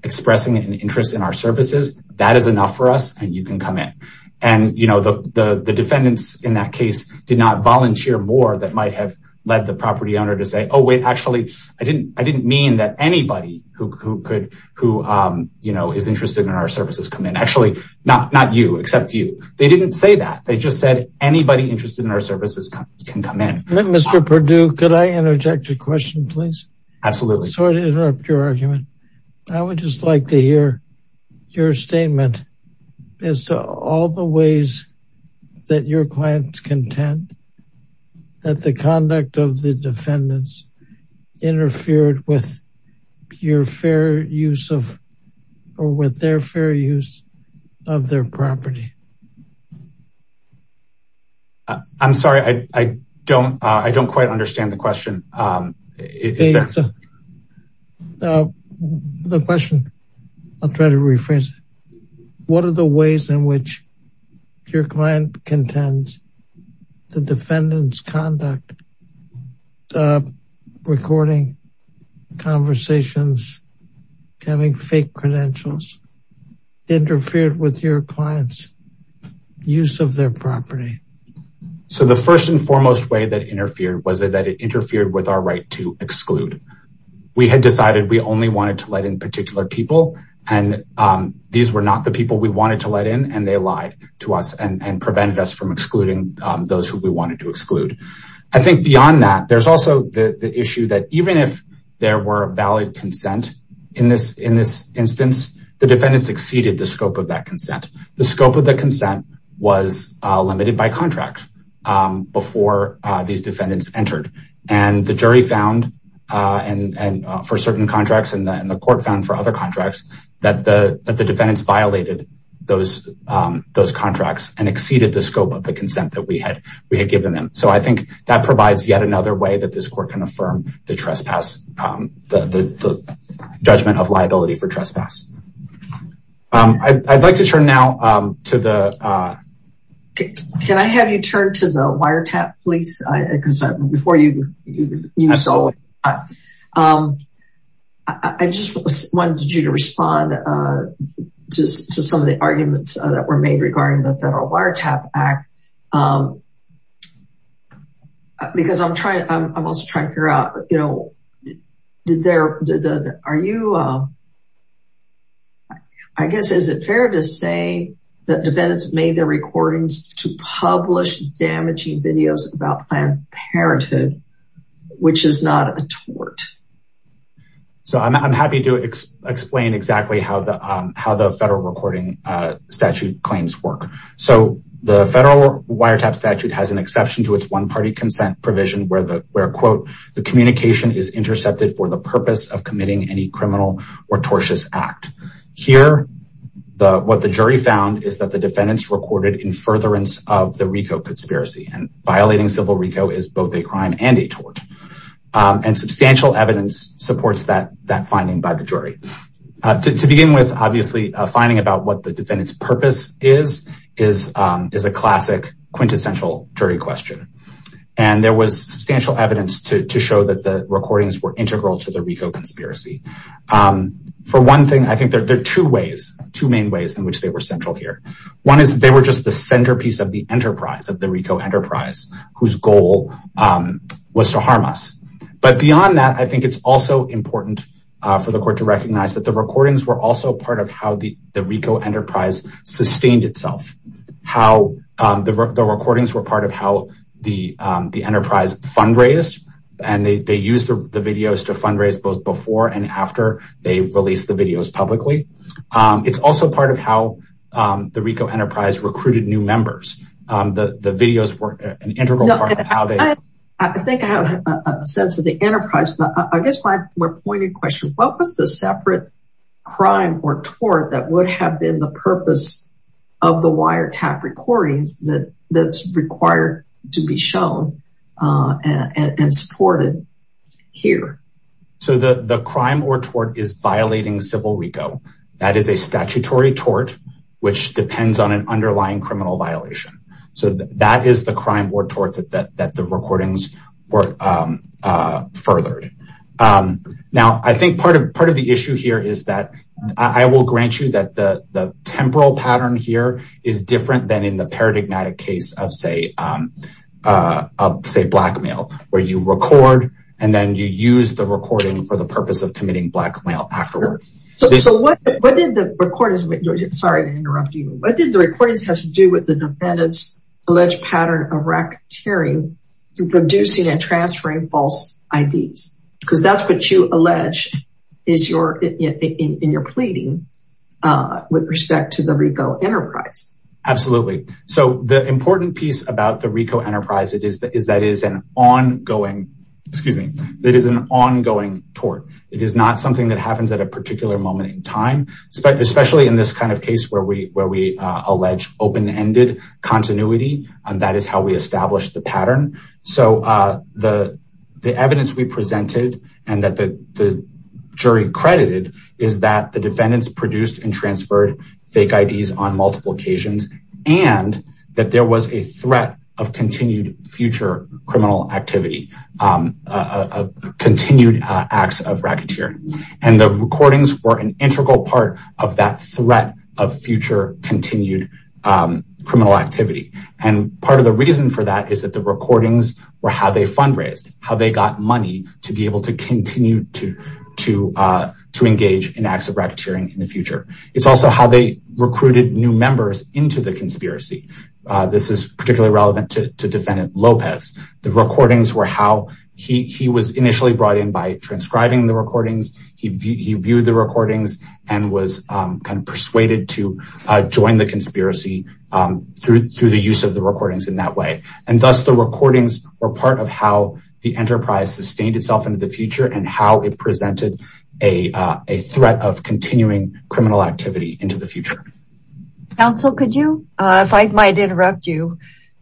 expressing an interest in our services that is enough for us and you can come in and the defendants in that case did not volunteer more that might have led the property owner to say oh wait actually I didn't mean that anybody who could who you know is interested in our services come in actually not not you except you they didn't say that they just said anybody interested in our services can come in. Mr. Perdue could I interject a question please? Absolutely. Sorry to interrupt your argument I would just like to hear your statement as to all the ways that your clients contend that the conduct of the defendants interfered with your fair use of or with their fair use of their property. I'm sorry I don't quite understand the question. The question I'll try to rephrase what are the ways in which your client contends the defendant's conduct recording conversations having fake credentials interfered with your clients use of their property. So the first and foremost way that was that it interfered with our right to exclude. We had decided we only wanted to let in particular people and these were not the people we wanted to let in and they lied to us and prevented us from excluding those who we wanted to exclude. I think beyond that there's also the issue that even if there were valid consent in this in this instance the defendant succeeded the scope of contract before these defendants entered and the jury found and for certain contracts and the court found for other contracts that the defendants violated those contracts and exceeded the scope of the consent that we had we had given them. So I think that provides yet another way that this court can affirm the judgment of liability for trespass. I'd like to turn now to the Can I have you turn to the wiretap please? I just wanted you to respond to some of the arguments that were made regarding the federal wiretap act. Because I'm trying I'm also trying to figure out you know did there are you I guess is it fair to say that defendants made their recordings to publish damaging videos about Planned Parenthood which is not a tort? So I'm happy to explain exactly how the how the federal recording statute claims work. So the federal wiretap statute has an exception to its one-party consent provision where the where quote the communication is intercepted for the purpose of committing any criminal or tortious act. Here the what the jury found is that the defendants recorded in furtherance of the RICO conspiracy and violating civil RICO is both a crime and a tort and substantial evidence supports that that finding by the jury. To begin with obviously finding about what the defendant's purpose is is is a classic quintessential jury question and there was substantial evidence to to show that the recordings were integral to the RICO conspiracy. For one thing I think there are two ways two main ways in which they were central here. One is they were just the centerpiece of the enterprise of the RICO enterprise whose goal was to harm us. But beyond that I think it's also important for the court to recognize that the recordings were also part of how the the RICO enterprise sustained itself. How the recordings were part of how the the enterprise fundraised and they used the videos to fundraise both before and after they released the videos publicly. It's also part of how the RICO enterprise recruited new members. The videos were an integral part of how they I think I have a sense of the enterprise but I guess my more pointed question what was the separate crime or tort that would have been the to be shown and supported here? So the the crime or tort is violating civil RICO. That is a statutory tort which depends on an underlying criminal violation. So that is the crime or tort that that the recordings were furthered. Now I think part of part of the issue here is that I will grant you that the the temporal pattern here is different than in the paradigmatic case of say of say blackmail where you record and then you use the recording for the purpose of committing blackmail afterwards. So what what did the recorders, sorry to interrupt you, what did the recordings have to do with the defendant's alleged pattern of racketeering producing and transferring false IDs? Because that's what you allege is your in your pleading with respect to the RICO enterprise. Absolutely. So the important piece about the RICO enterprise it is that is that is an ongoing excuse me that is an ongoing tort. It is not something that happens at a particular moment in time especially in this kind of case where we where we allege open-ended continuity and that is how we establish the pattern. So the the evidence we presented and that the the jury credited is that the defendants produced and transferred fake IDs on multiple occasions and that there was a threat of continued future criminal activity a continued acts of racketeering and the recordings were an integral part of that threat of future continued criminal activity. And part of the reason for that is that the recordings were how they fundraised how they got money to be able to continue to to to engage in acts of racketeering in the future. It's also how they recruited new members into the conspiracy. This is particularly relevant to defendant Lopez. The recordings were how he was initially brought in by transcribing the recordings. He viewed the recordings and was kind of persuaded to join the conspiracy through through the use of the recordings in that way and thus the recordings were part of how the enterprise sustained itself into the future and how it presented a a threat of continuing criminal activity into the future. Counsel could you if I might interrupt you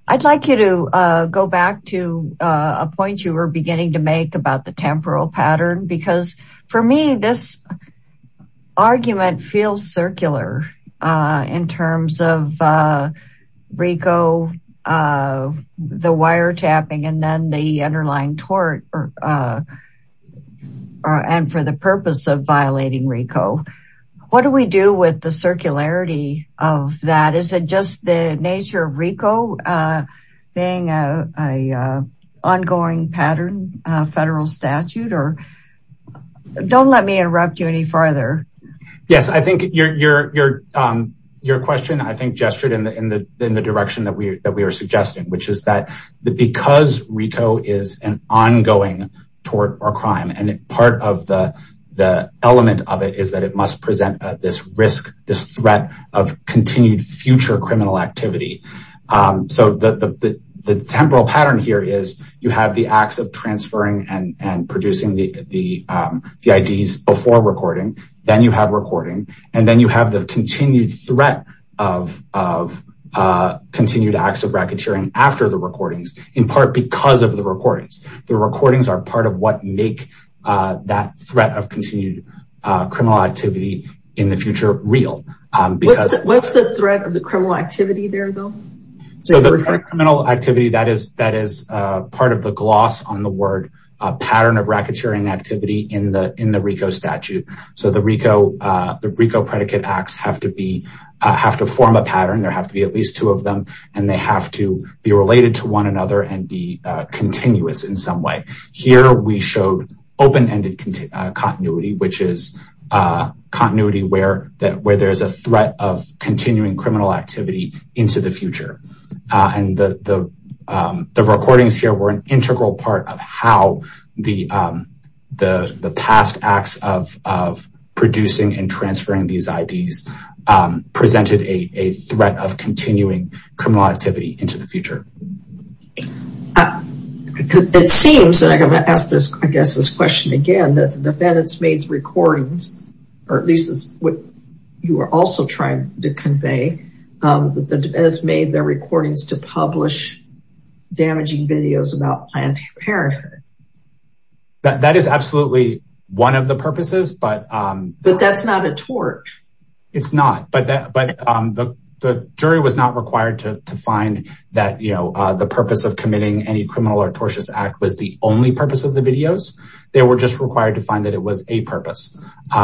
I'd like you to go back to a point you were beginning to make about the temporal pattern because for me this argument feels circular in terms of RICO the wiretapping and then the underlying tort and for the purpose of violating RICO. What do we do with the circularity of that? Is it just the nature of RICO being a ongoing pattern federal statute or don't let me interrupt you any further. Yes I think your question I think gestured in the direction that we that we are suggesting which is that because RICO is an ongoing tort or crime and part of the element of it is that it must present this risk this threat of continued future criminal activity. So the temporal pattern here is you have acts of transferring and producing the IDs before recording then you have recording and then you have the continued threat of continued acts of racketeering after the recordings in part because of the recordings. The recordings are part of what make that threat of continued criminal activity in the future real. What's the threat of the criminal activity there though? So the criminal activity that is part of the gloss on the word pattern of racketeering activity in the in the RICO statute. So the RICO predicate acts have to be have to form a pattern there have to be at least two of them and they have to be related to one another and be continuous in some way. Here we showed open-ended continuity which is continuity where that where there's a threat of continuing criminal activity into the future and the recordings here were an integral part of how the past acts of producing and transferring these IDs presented a threat of continuing criminal activity into the future. It seems and I'm going to ask this I guess this question again that the defendants made recordings or at least is what you are also trying to convey that the defense made their recordings to publish damaging videos about Planned Parenthood. That is absolutely one of the purposes but but that's not a tort. It's not but the jury was not required to find that you know the purpose of committing any criminal or tortious act was the only purpose of the videos they were just required to find that it was a purpose.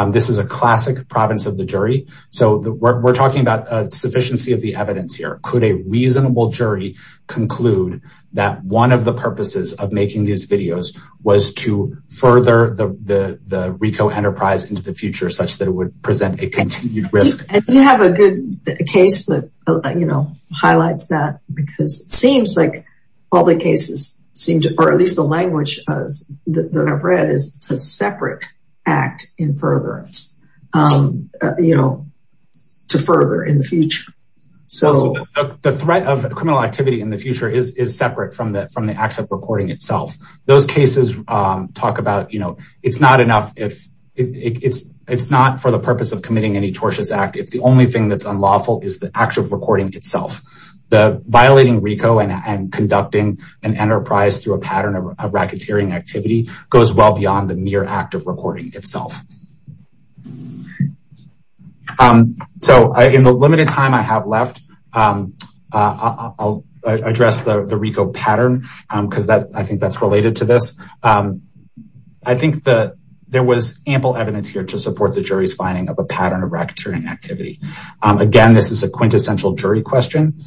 This is a classic province of the jury so we're talking about a sufficiency of the evidence here. Could a reasonable jury conclude that one of the purposes of making these videos was to further the RICO enterprise into the future such that it would present a continued risk? You have a good case that you know highlights that because it seems like all the cases seem to or at least the language that I've read is it's a separate act in furtherance you know to further in the future. So the threat of criminal activity in the future is is separate from the from the acts of recording itself. Those cases talk about you know it's not enough if it's it's not for the purpose of committing any tortious act if the an enterprise through a pattern of racketeering activity goes well beyond the mere act of recording itself. So in the limited time I have left I'll address the RICO pattern because that I think that's related to this. I think that there was ample evidence here to support the jury's finding of a pattern of racketeering activity. Again this is a quintessential jury question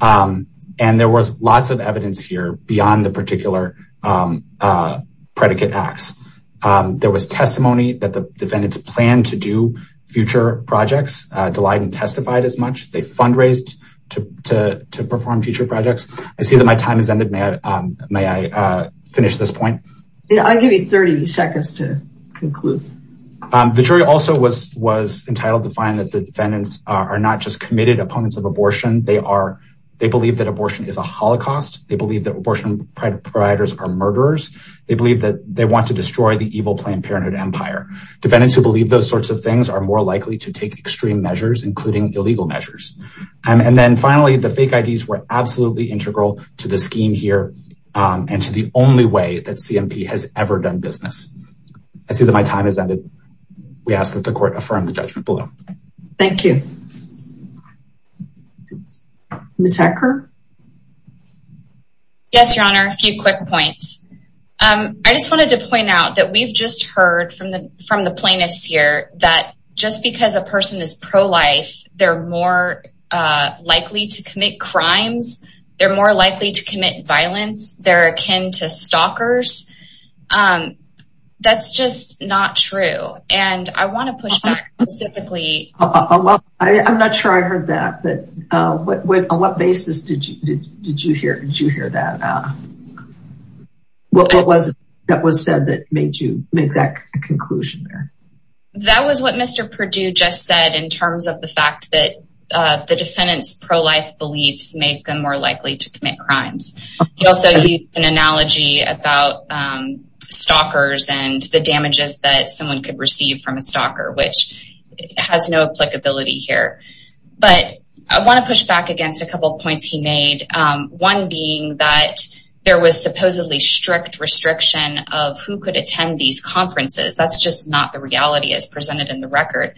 and there was lots of evidence here beyond the particular predicate acts. There was testimony that the defendants planned to do future projects. Daleiden testified as much. They fundraised to perform future projects. I see that my time has ended. May I finish this point? I'll give you 30 seconds to conclude. The jury also was entitled to find that the defendants are not just committed opponents of abortion. They believe that abortion is a holocaust. They believe that abortion providers are murderers. They believe that they want to destroy the evil Planned Parenthood empire. Defendants who believe those sorts of things are more likely to take extreme measures including illegal measures. And then finally the fake IDs were absolutely integral to the scheme here and to the only way that CMP has ever done business. I see that my time has ended. We ask the court to affirm the judgment below. Thank you. Ms. Hecker? Yes, your honor. A few quick points. I just wanted to point out that we've just heard from the plaintiffs here that just because a person is pro-life they're more likely to commit crimes. They're more likely to commit specifically. I'm not sure I heard that but on what basis did you hear that? What was it that was said that made you make that conclusion there? That was what Mr. Perdue just said in terms of the fact that the defendant's pro-life beliefs make them more likely to commit crimes. He also used an analogy about stalkers and the damages that someone could receive from stalker which has no applicability here. But I want to push back against a couple points he made. One being that there was supposedly strict restriction of who could attend these conferences. That's just not the reality as presented in the record.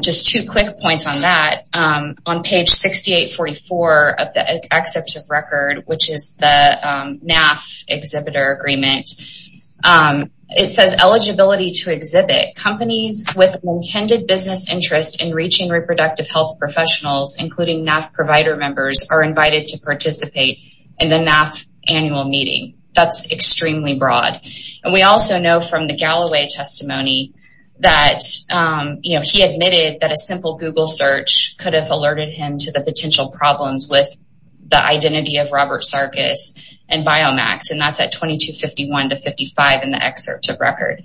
Just two quick points on that. On page 6844 of the except of record which is the NAF exhibitor agreement. It says eligibility to exhibit companies with intended business interest in reaching reproductive health professionals including NAF provider members are invited to participate in the NAF annual meeting. That's extremely broad. And we also know from the Galloway testimony that he admitted that a simple google search could have alerted him to the potential problems with the identity of Robert Sarkis and Biomax. And that's at 2251 to 55 in the excerpt of record.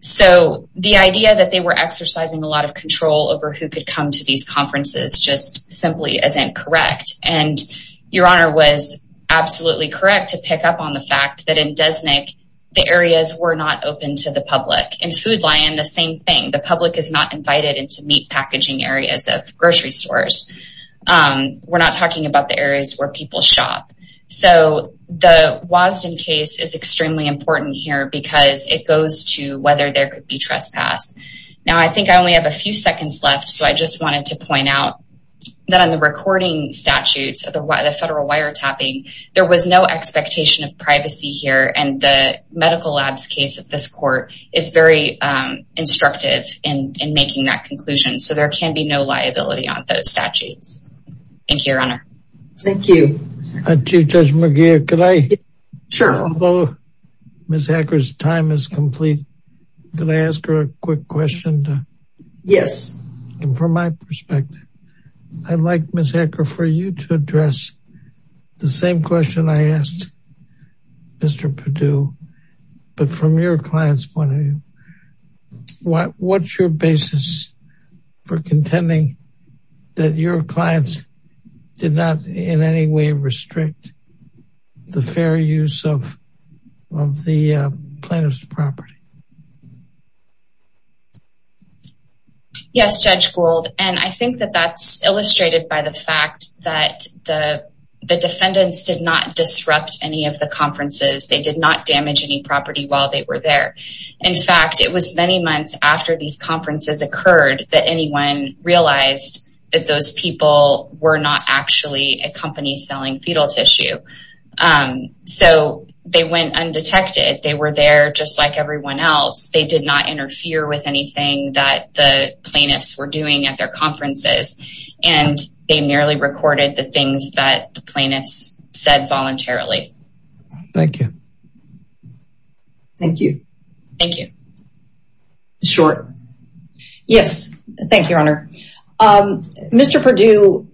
So the idea that they were exercising a lot of control over who could come to these conferences just simply isn't correct. And your honor was absolutely correct to pick up on the fact that in Desnick the areas were not open to the public. In Food Lion the same thing. The public is not invited into meat packaging areas of grocery stores. We're not talking about the areas where people shop. So the Wasden case is extremely important here because it goes to whether there could be trespass. Now I think I only have a few seconds left so I just wanted to point out that on the recording statutes of the federal wiretapping there was no expectation of privacy here and the medical labs case at this court is very instructive in making that conclusion. So there can be no liability on those statutes. Thank you your honor. Thank you. Chief Judge McGeer could I? Sure. Although Ms. Hacker's time is complete could I ask her a quick question? Yes. And from my perspective I'd like Ms. Hacker for you to address the same question I asked Mr. Perdue but from your client's point of view. What's your basis for contending that your clients did not in any way restrict the fair use of the plaintiff's property? Yes Judge Gould and I think that that's illustrated by the fact that the defendants did not disrupt any of the conferences. They did not damage any property while they were there. In fact it was many months after these conferences occurred that anyone realized that those people were not actually a company selling fetal tissue. So they went undetected. They were there just like everyone else. They did not interfere with anything that the plaintiffs were doing at their conferences and they merely recorded the things that the plaintiffs said voluntarily. Thank you. Thank you. Thank you. Short? Yes. Thank you Your Honor. Mr. Perdue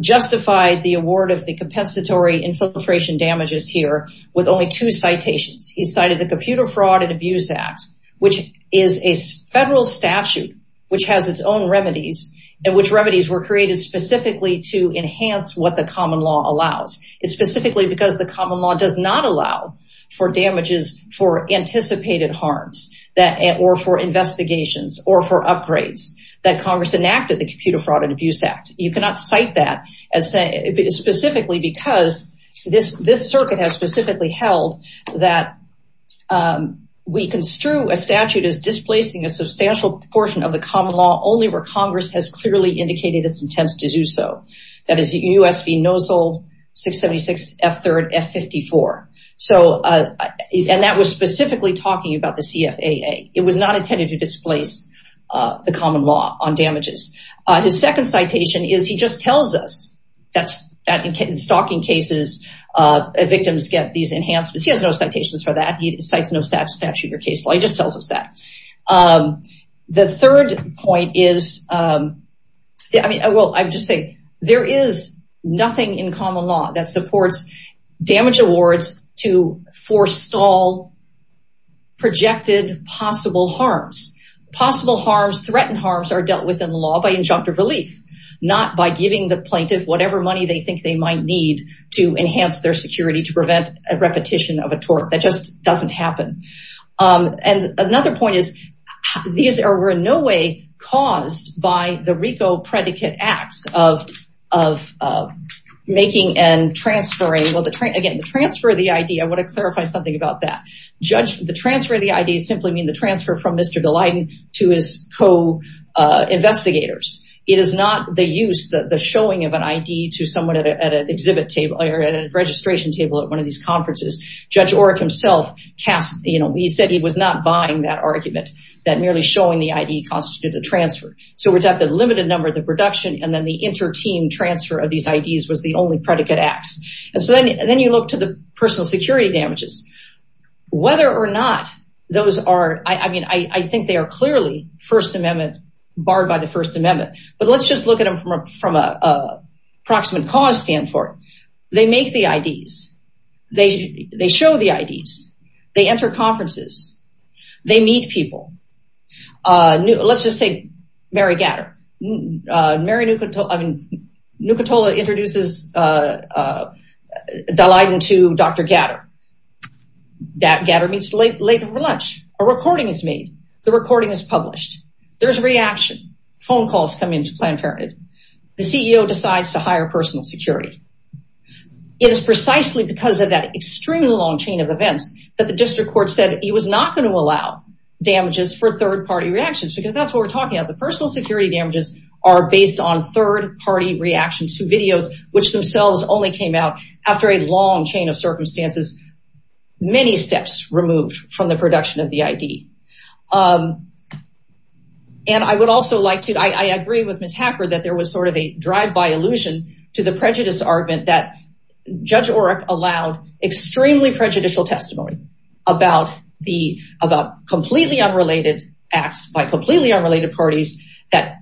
justified the award of the compensatory infiltration damages here with only two citations. He cited the Computer Fraud and Abuse Act which is a federal statute which has its own remedies and which remedies were created specifically to enhance what the common law allows. It's specifically because the common law does not allow for damages for anticipated harms that or for investigations or for upgrades that Congress enacted the Computer Fraud and Abuse Act. You cannot cite that as specifically because this this circuit has specifically held that we construe a statute as displacing a substantial portion of the common law only where Congress has clearly indicated its intent to do so. That is the U.S. v. Nozzle 676 F3rd F54. So and that was specifically talking about the CFAA. It was not intended to displace the common law on damages. His second citation is he just tells us that in stalking cases victims get these enhancements. He has no citations for that. He cites no statute or case law. He just tells us that. The third point is I mean I will I just say there is nothing in common law that supports damage awards to forestall projected possible harms. Possible harms threatened harms are dealt with in law by injunctive relief not by giving the plaintiff whatever money they think they might need to enhance their security to prevent a repetition of a tort. That just doesn't happen. And another point is these are in no way caused by the RICO predicate acts of making and transferring. Well again the transfer of the I.D. I want to clarify something about that. Judge the transfer of the I.D. simply mean the transfer from Mr. Daleiden to his co-investigators. It is not the use that the showing of an I.D. to someone at an exhibit table or at a registration table at one of these conferences. Judge Orrick himself said he was not buying that argument that merely showing the I.D. constitutes a transfer. So we have the limited number of the production and then the inter-team transfer of these I.D.s was the only predicate acts. And so then you look to the personal security damages. Whether or not those are I mean I think they are clearly first amendment barred by the first amendment. But let's just look at them from a approximate cause stand for they make the I.D.s. They show the I.D.s. They enter conferences. They meet people. Let's just say Mary Gatter. Mary Nukatola introduces Daleiden to Dr. Gatter. Gatter meets late for lunch. A recording is made. The recording is published. There's a reaction. Phone calls come in to Planned Parenthood. The CEO decides to hire personal security. It is precisely because of that extremely long chain of events that the district court said he was not going to allow damages for third party reactions because that's what we're talking about. The personal security damages are based on third party reactions to videos which themselves only came out after a long chain of circumstances. Many steps removed from the production of the I.D. And I would also like to I agree with Ms. Hacker that there was sort of a drive-by allusion to the prejudice argument that Judge Oreck allowed extremely prejudicial testimony about the about completely unrelated acts by completely unrelated parties that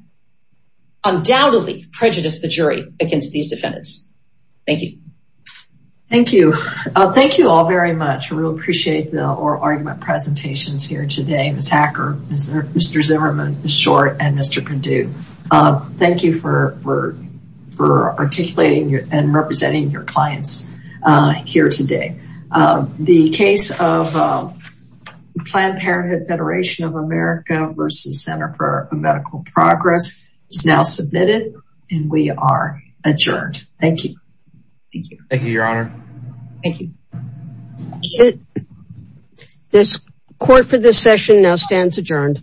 undoubtedly prejudiced the jury against these defendants. Thank you. Thank you. Thank you all very much. We appreciate the argument presentations here today. Ms. Hacker, Mr. Zimmerman, Mr. Short, and Mr. Perdue. Thank you for articulating and representing your clients here today. The case of Planned Parenthood Federation of America versus Center for Medical Progress is now submitted and we are adjourned. Thank you. Thank you. Thank you, your honor. Thank you. This court for this session now stands adjourned.